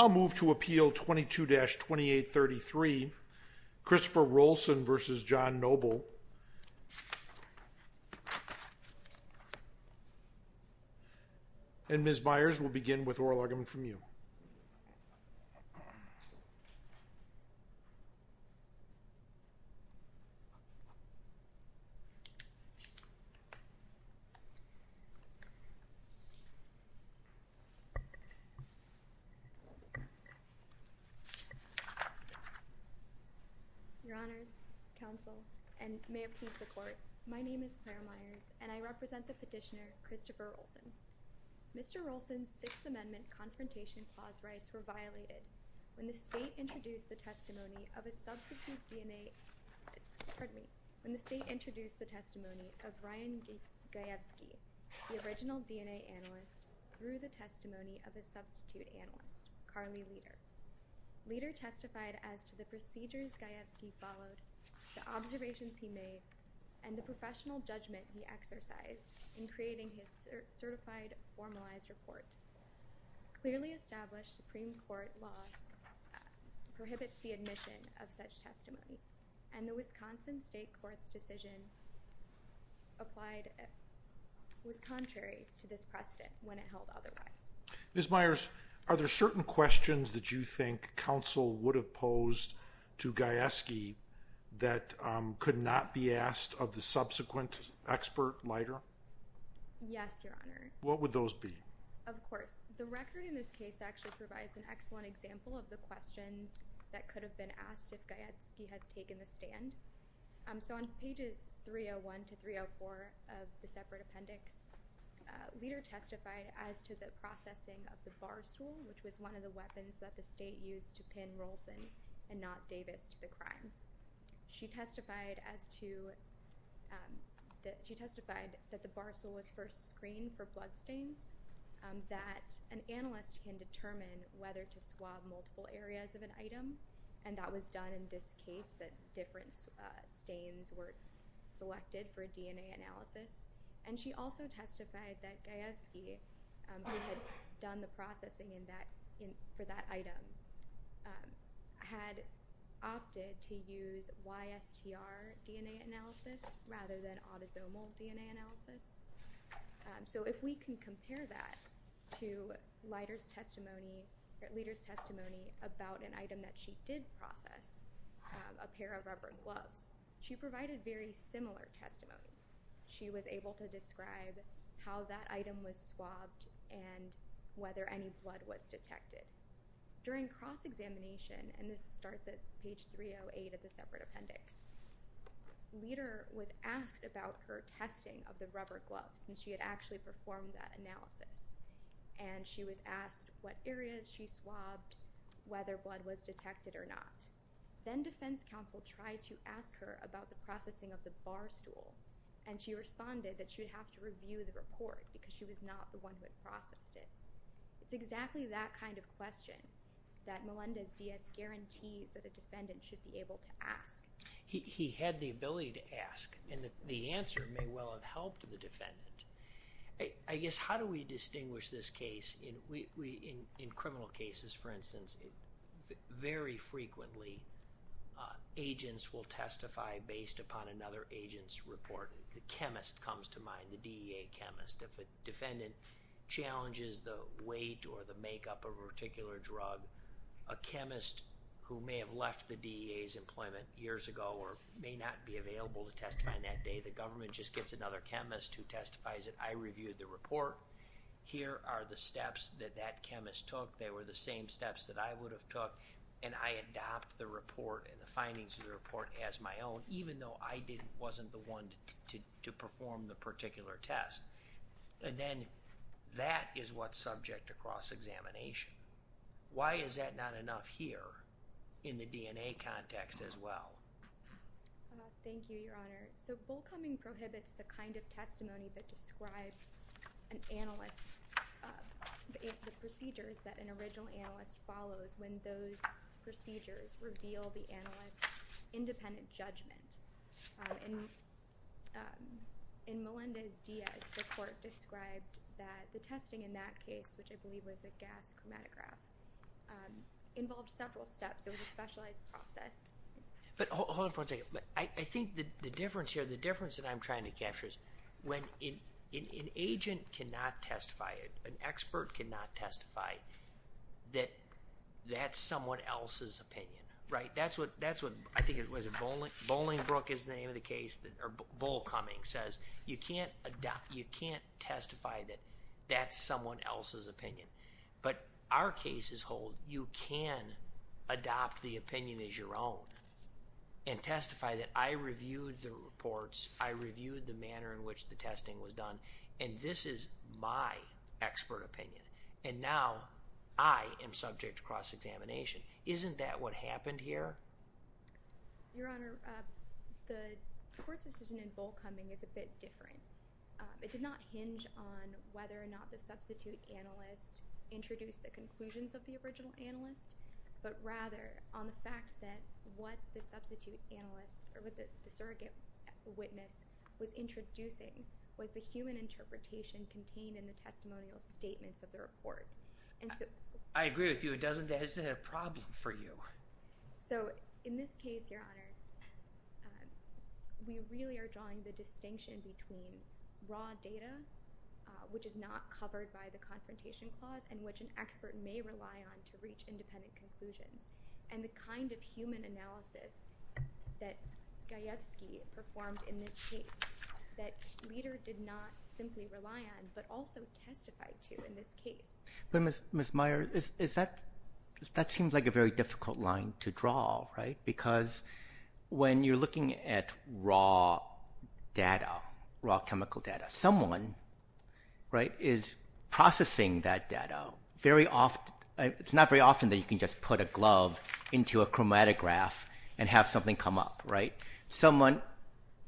I'll move to appeal 22-2833 Christopher Roalson v. Jon Noble and Ms. Byers we'll begin with oral argument from you your honors counsel and may it please the court my name is Claire Myers and I represent the petitioner Christopher Rolson. Mr. Rolson's sixth amendment confrontation clause rights were violated when the state introduced the testimony of Ryan Gajewski the original DNA analyst through the testimony of a substitute analyst Carly Leder. Leder testified as to the procedures Gajewski followed the observations he made and the professional judgment he exercised in creating his certified formalized report. Clearly established Supreme Court law prohibits the admission of such testimony and the Wisconsin State Court's decision was contrary to this precedent when it held otherwise. Ms. Myers are there certain questions that you think counsel would have posed to Gajewski that could not be asked of the subsequent expert lighter? Yes your honor. What would those be? Of course the record in this case actually provides an excellent example of the questions that could have been asked if Gajewski had taken the stand. So on pages 301 to 304 of the separate appendix Leder testified as to the processing of the barstool which was one of the weapons that the state used to pin Rolson and not Davis to the crime. She testified as to that she testified that the barstool was first screened for bloodstains that an analyst can determine whether to swab multiple areas of an item and that was done in this case that different stains were selected for a DNA analysis and she also testified that Gajewski who had done the processing in that in for that item had opted to use YSTR DNA analysis rather than autosomal DNA analysis. So if we can compare that to Leder's testimony, Leder's testimony about an item that she did process, a pair of rubber gloves, she provided very similar testimony. She was able to describe how that item was swabbed and whether any blood was detected. During cross-examination and this starts at page 308 of the separate appendix, Leder was asked about her testing of the rubber gloves since she had actually performed that analysis and she was asked what detected or not. Then defense counsel tried to ask her about the processing of the barstool and she responded that she would have to review the report because she was not the one who had processed it. It's exactly that kind of question that Melendez-Diaz guarantees that a defendant should be able to ask. He had the ability to ask and the answer may well have helped the defendant. I guess how do we distinguish this case? In criminal cases, for instance, very frequently agents will testify based upon another agent's report. The chemist comes to mind, the DEA chemist. If a defendant challenges the weight or the makeup of a particular drug, a chemist who may have left the DEA's employment years ago or may not be available to testify on that day, the government just gets another chemist who testifies that I reviewed the report. Here are the steps that that chemist took. They were the same steps that I would have took and I adopt the report and the findings of the report as my own even though I wasn't the one to perform the particular test. And then that is what's subject to cross-examination. Why is that not enough here in the DNA context as well? Thank you, Your Honor. So, Bullcoming prohibits the kind of testimony that describes an analyst, the procedures that an original analyst follows when those procedures reveal the analyst's independent judgment. In Melendez-Diaz, the court described that the testing in that case, which I believe was a gas chromatograph, involved several steps. It was a specialized process. But hold on for a minute. I think the difference here, the difference that I'm trying to capture is when an agent cannot testify, an expert cannot testify, that that's someone else's opinion, right? That's what I think it was, Bolingbroke is the name of the case, or Bullcoming says you can't adopt, you can't testify that that's someone else's opinion. But our cases hold you can adopt the opinion as your own and testify that I reviewed the reports, I reviewed the manner in which the testing was done, and this is my expert opinion. And now I am subject to cross-examination. Isn't that what happened here? Your Honor, the court's decision in Bullcoming is a bit different. It did not hinge on whether or not the substitute analyst introduced the conclusions of the original analyst, but rather on the fact that what the substitute analyst or what the surrogate witness was introducing was the human interpretation contained in the testimonial statements of the report. I agree with you, it doesn't, that isn't a problem for you. So in this case, Your Honor, we really are drawing the distinction between raw data, which is not covered by the confrontation clause, in which an expert may rely on to reach independent conclusions, and the kind of human analysis that Gajewski performed in this case, that Leder did not simply rely on, but also testified to in this case. But Ms. Meyer, is that, that seems like a very difficult line to draw, right? Because when you're looking at raw data, raw chemical data, someone, right, is not very often that you can just put a glove into a chromatograph and have something come up, right? Someone,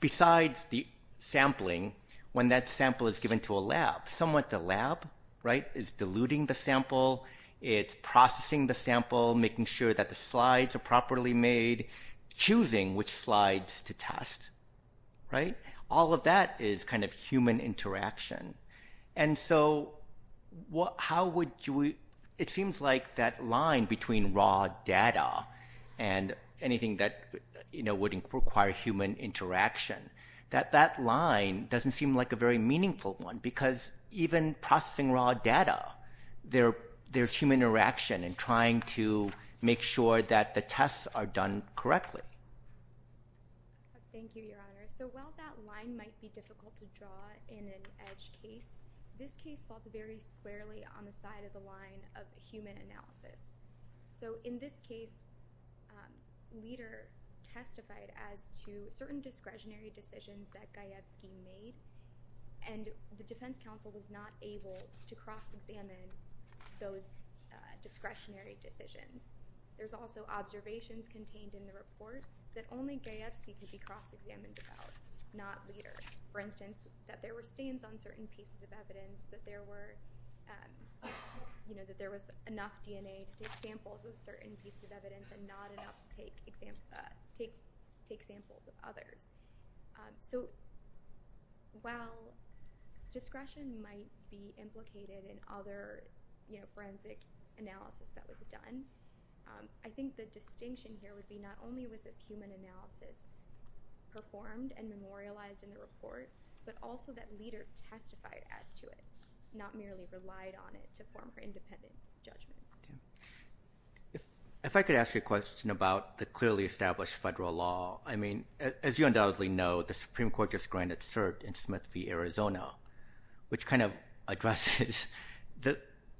besides the sampling, when that sample is given to a lab, someone at the lab, right, is diluting the sample, it's processing the sample, making sure that the slides are properly made, choosing which slides to How would you, it seems like that line between raw data and anything that, you know, would require human interaction, that that line doesn't seem like a very meaningful one, because even processing raw data, there's human interaction and trying to make sure that the tests are done correctly. Thank you, Your Honor. So while that line might be difficult to draw in an EDGE case, this case falls very squarely on the side of the line of human analysis. So in this case, Leder testified as to certain discretionary decisions that Gajewski made, and the Defense Council was not able to cross-examine those discretionary decisions. There's also observations contained in the report that only Gajewski could be cross-examined about, not Leder. For instance, on certain pieces of evidence that there were, you know, that there was enough DNA to take samples of certain pieces of evidence and not enough to take samples of others. So while discretion might be implicated in other, you know, forensic analysis that was done, I think the distinction here would be not only was this human analysis performed and Leder testified as to it, not merely relied on it to form her independent judgments. If I could ask you a question about the clearly established federal law, I mean, as you undoubtedly know, the Supreme Court just granted cert in Smith v. Arizona, which kind of addresses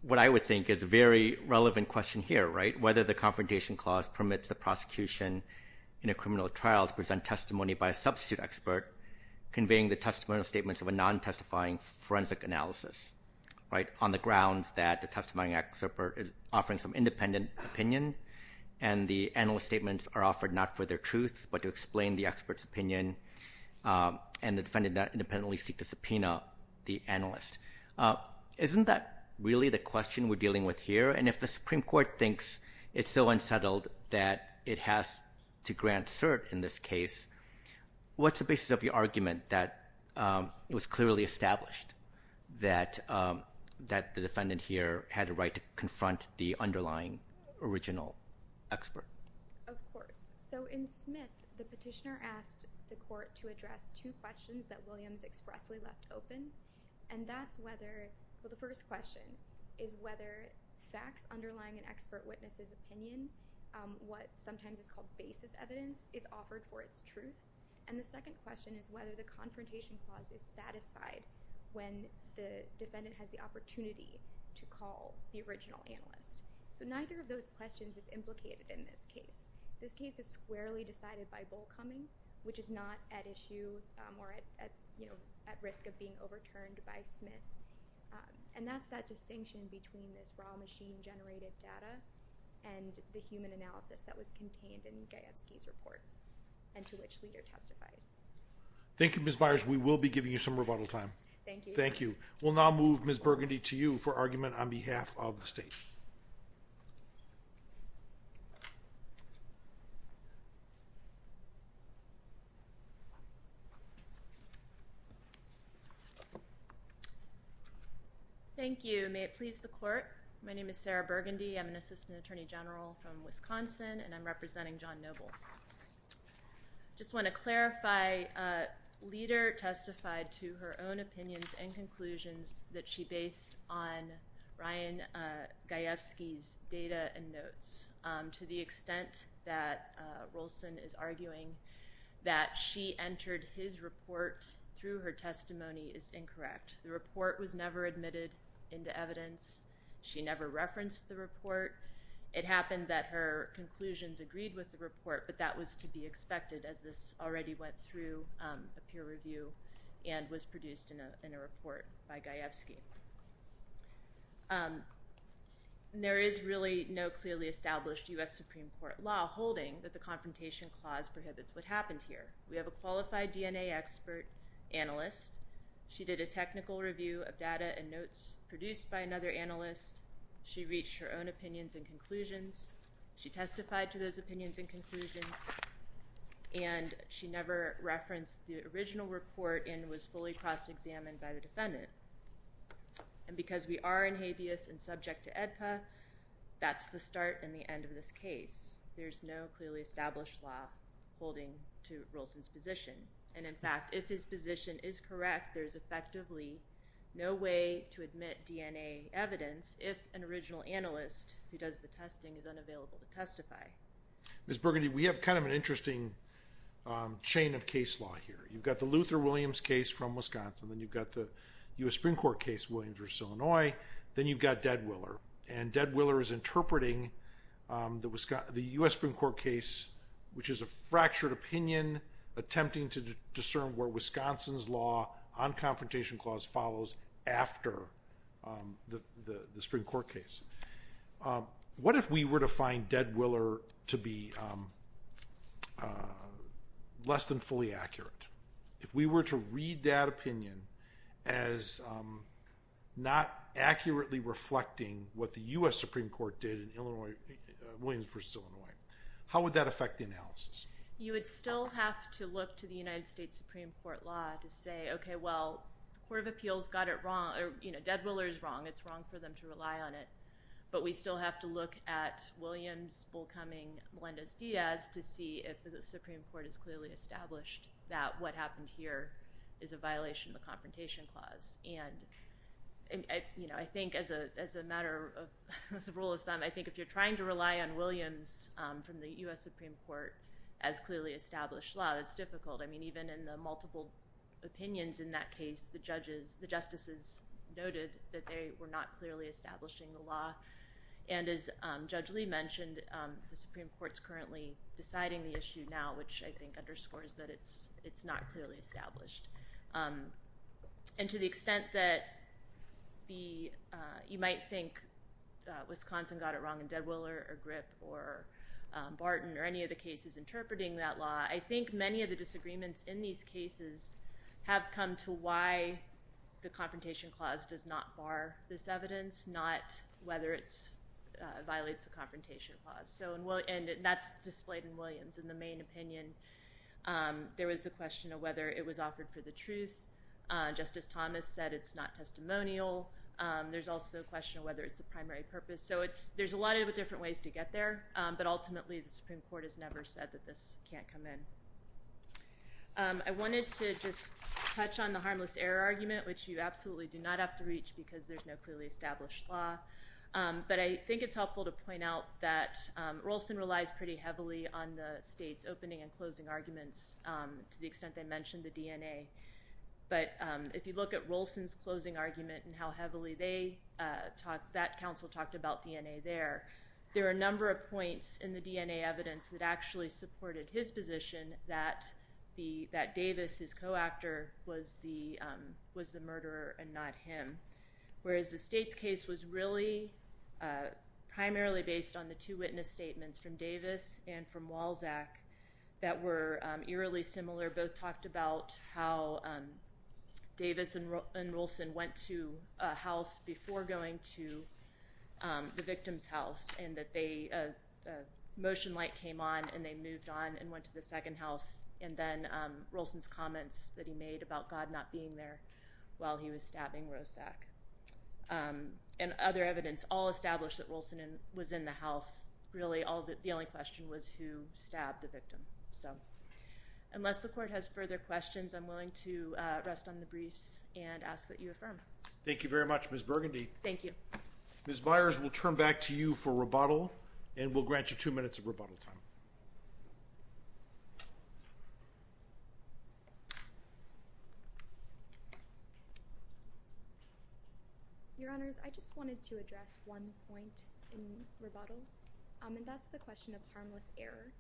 what I would think is a very relevant question here, right? Whether the Confrontation Clause permits the prosecution in a criminal trial to present testimony by a substitute expert conveying the testimonial statements of a non-testifying forensic analysis, right, on the grounds that the testifying expert is offering some independent opinion and the analyst statements are offered not for their truth but to explain the expert's opinion and the defendant independently seek to subpoena the analyst. Isn't that really the question we're dealing with here? And if the Supreme Court thinks it's so unsettled that it has to grant cert in this case, what's the basis of the argument that it was clearly established that the defendant here had a right to confront the underlying original expert? Of course. So in Smith, the petitioner asked the court to address two questions that Williams expressly left open, and that's whether, well, the first question is whether facts underlying an expert witness's opinion, what sometimes is called basis evidence, is offered for its truth, and the second question is whether the Confrontation Clause is satisfied when the defendant has the opportunity to call the original analyst. So neither of those questions is implicated in this case. This case is squarely decided by Bollcoming, which is not at issue or at, you know, at risk of being overturned by Smith, and that's that distinction between this raw machine-generated data and the human analysis that was contained in Gajewski's report, and to which leader testified. Thank You, Ms. Byers. We will be giving you some rebuttal time. Thank you. Thank you. We'll now move Ms. Burgundy to you for argument on behalf of the state. Thank you. May it please the court, my name is Sarah Burgundy. I'm an assistant attorney general from Wisconsin, and I'm representing John Noble. I just want to clarify, leader testified to her own opinions and conclusions that she based on Ryan Gajewski's data and notes. To the extent that Rolson is arguing that she entered his report through her testimony is incorrect. The report was never admitted into evidence. She never referenced the report. It happened that her conclusions agreed with the report, but that was to be expected as this already went through a peer review and was produced in a report by Gajewski. There is really no clearly established US Supreme Court law holding that the Confrontation Clause prohibits what happened here. We have a qualified DNA expert analyst. She did a technical review of data and notes produced by another analyst. She reached her own opinions and conclusions. She testified to those opinions and conclusions, and she never referenced the original report and was fully cross-examined by the defendant. And because we are in habeas and subject to AEDPA, that's the start and the end of this case. There's no clearly established law holding to Rolson's position, and in fact, if his position is correct, there's effectively no way to admit DNA evidence if an Ms. Burgundy, we have kind of an interesting chain of case law here. You've got the Luther Williams case from Wisconsin. Then you've got the US Supreme Court case, Williams v. Illinois. Then you've got Deadwiller, and Deadwiller is interpreting the US Supreme Court case, which is a fractured opinion attempting to discern where Wisconsin's law on Confrontation Clause follows after the Supreme Court case. What if we were to find Deadwiller to be less than fully accurate? If we were to read that opinion as not accurately reflecting what the US Supreme Court did in Williams v. Illinois, how would that affect the analysis? You would still have to look to the United States Supreme Court law to say, okay, well, the Court of Appeals got it wrong, or Deadwiller is wrong, it's wrong for them to rely on it, but we still have to look at Williams, Bull Cumming, Melendez-Diaz to see if the Supreme Court is clearly established that what happened here is a violation of the Confrontation Clause. I think as a matter of rule of thumb, I think if you're trying to rely on Williams from the US Supreme Court as clearly established law, it's difficult. I mean, even in the multiple opinions in that case, the justices noted that they were not clearly establishing the law. And as Judge Lee mentioned, the Supreme Court's currently deciding the issue now, which I think underscores that it's not clearly established. And to the extent that you might think Wisconsin got it wrong and Deadwiller or any of the disagreements in these cases have come to why the Confrontation Clause does not bar this evidence, not whether it violates the Confrontation Clause. And that's displayed in Williams in the main opinion. There was a question of whether it was offered for the truth. Justice Thomas said it's not testimonial. There's also a question of whether it's a primary purpose. So there's a lot of different ways to get there, but ultimately the Supreme Court has never said that this can't come in. I wanted to just touch on the harmless error argument, which you absolutely do not have to reach because there's no clearly established law. But I think it's helpful to point out that Rolson relies pretty heavily on the state's opening and closing arguments to the extent they mentioned the DNA. But if you look at Rolson's closing argument and how heavily that council talked about DNA there, there are a number of evidence that actually supported his position that Davis, his co-actor, was the murderer and not him. Whereas the state's case was really primarily based on the two witness statements from Davis and from Walzak that were eerily similar. Both talked about how Davis and Rolson went to a house before going to the victim's house and that the motion light came on and they moved on and went to the second house. And then Rolson's comments that he made about God not being there while he was stabbing Roszak. And other evidence all established that Rolson was in the house. Really the only question was who stabbed the victim. So unless the court has further questions, I'm willing to rest on the Ms. Myers will turn back to you for rebuttal and will grant you two minutes of rebuttal time. Your honors, I just wanted to address one point in rebuttal and that's the question of harmless error.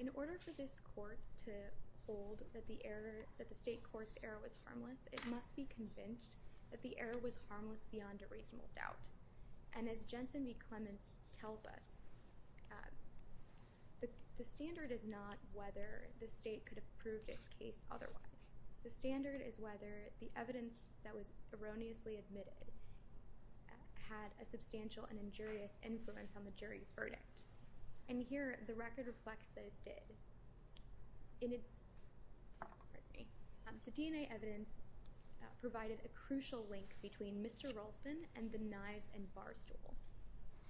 In order for this court to hold that the error that the state court's error was harmless, it must be convinced that the error was and as Jensen B. Clements tells us, the standard is not whether the state could have proved its case otherwise. The standard is whether the evidence that was erroneously admitted had a substantial and injurious influence on the jury's verdict. And here, the record reflects that it did. Pardon me. The DNA evidence provided a crucial link between Mr. Rolson and the knives and barstool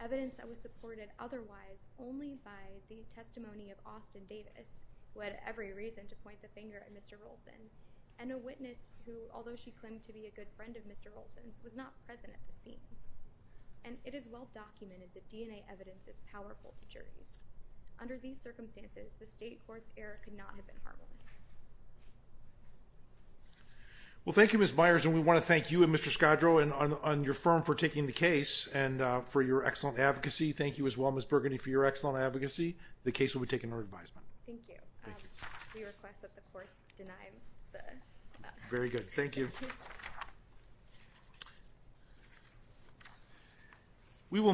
evidence that was supported otherwise only by the testimony of Austin Davis, who had every reason to point the finger at Mr Rolson and a witness who, although she claimed to be a good friend of Mr Rolson's, was not present at the scene. And it is well documented that DNA evidence is powerful to juries. Under these circumstances, the state court's error could not have been harmless. Well, thank you, Miss Myers. And we want to thank you and Mr Scadro and on your firm for taking the case and for your excellent advocacy. Thank you as well, Miss Burgundy, for your excellent advocacy. The case will be taken revised. Thank you. Very good. Thank you. We will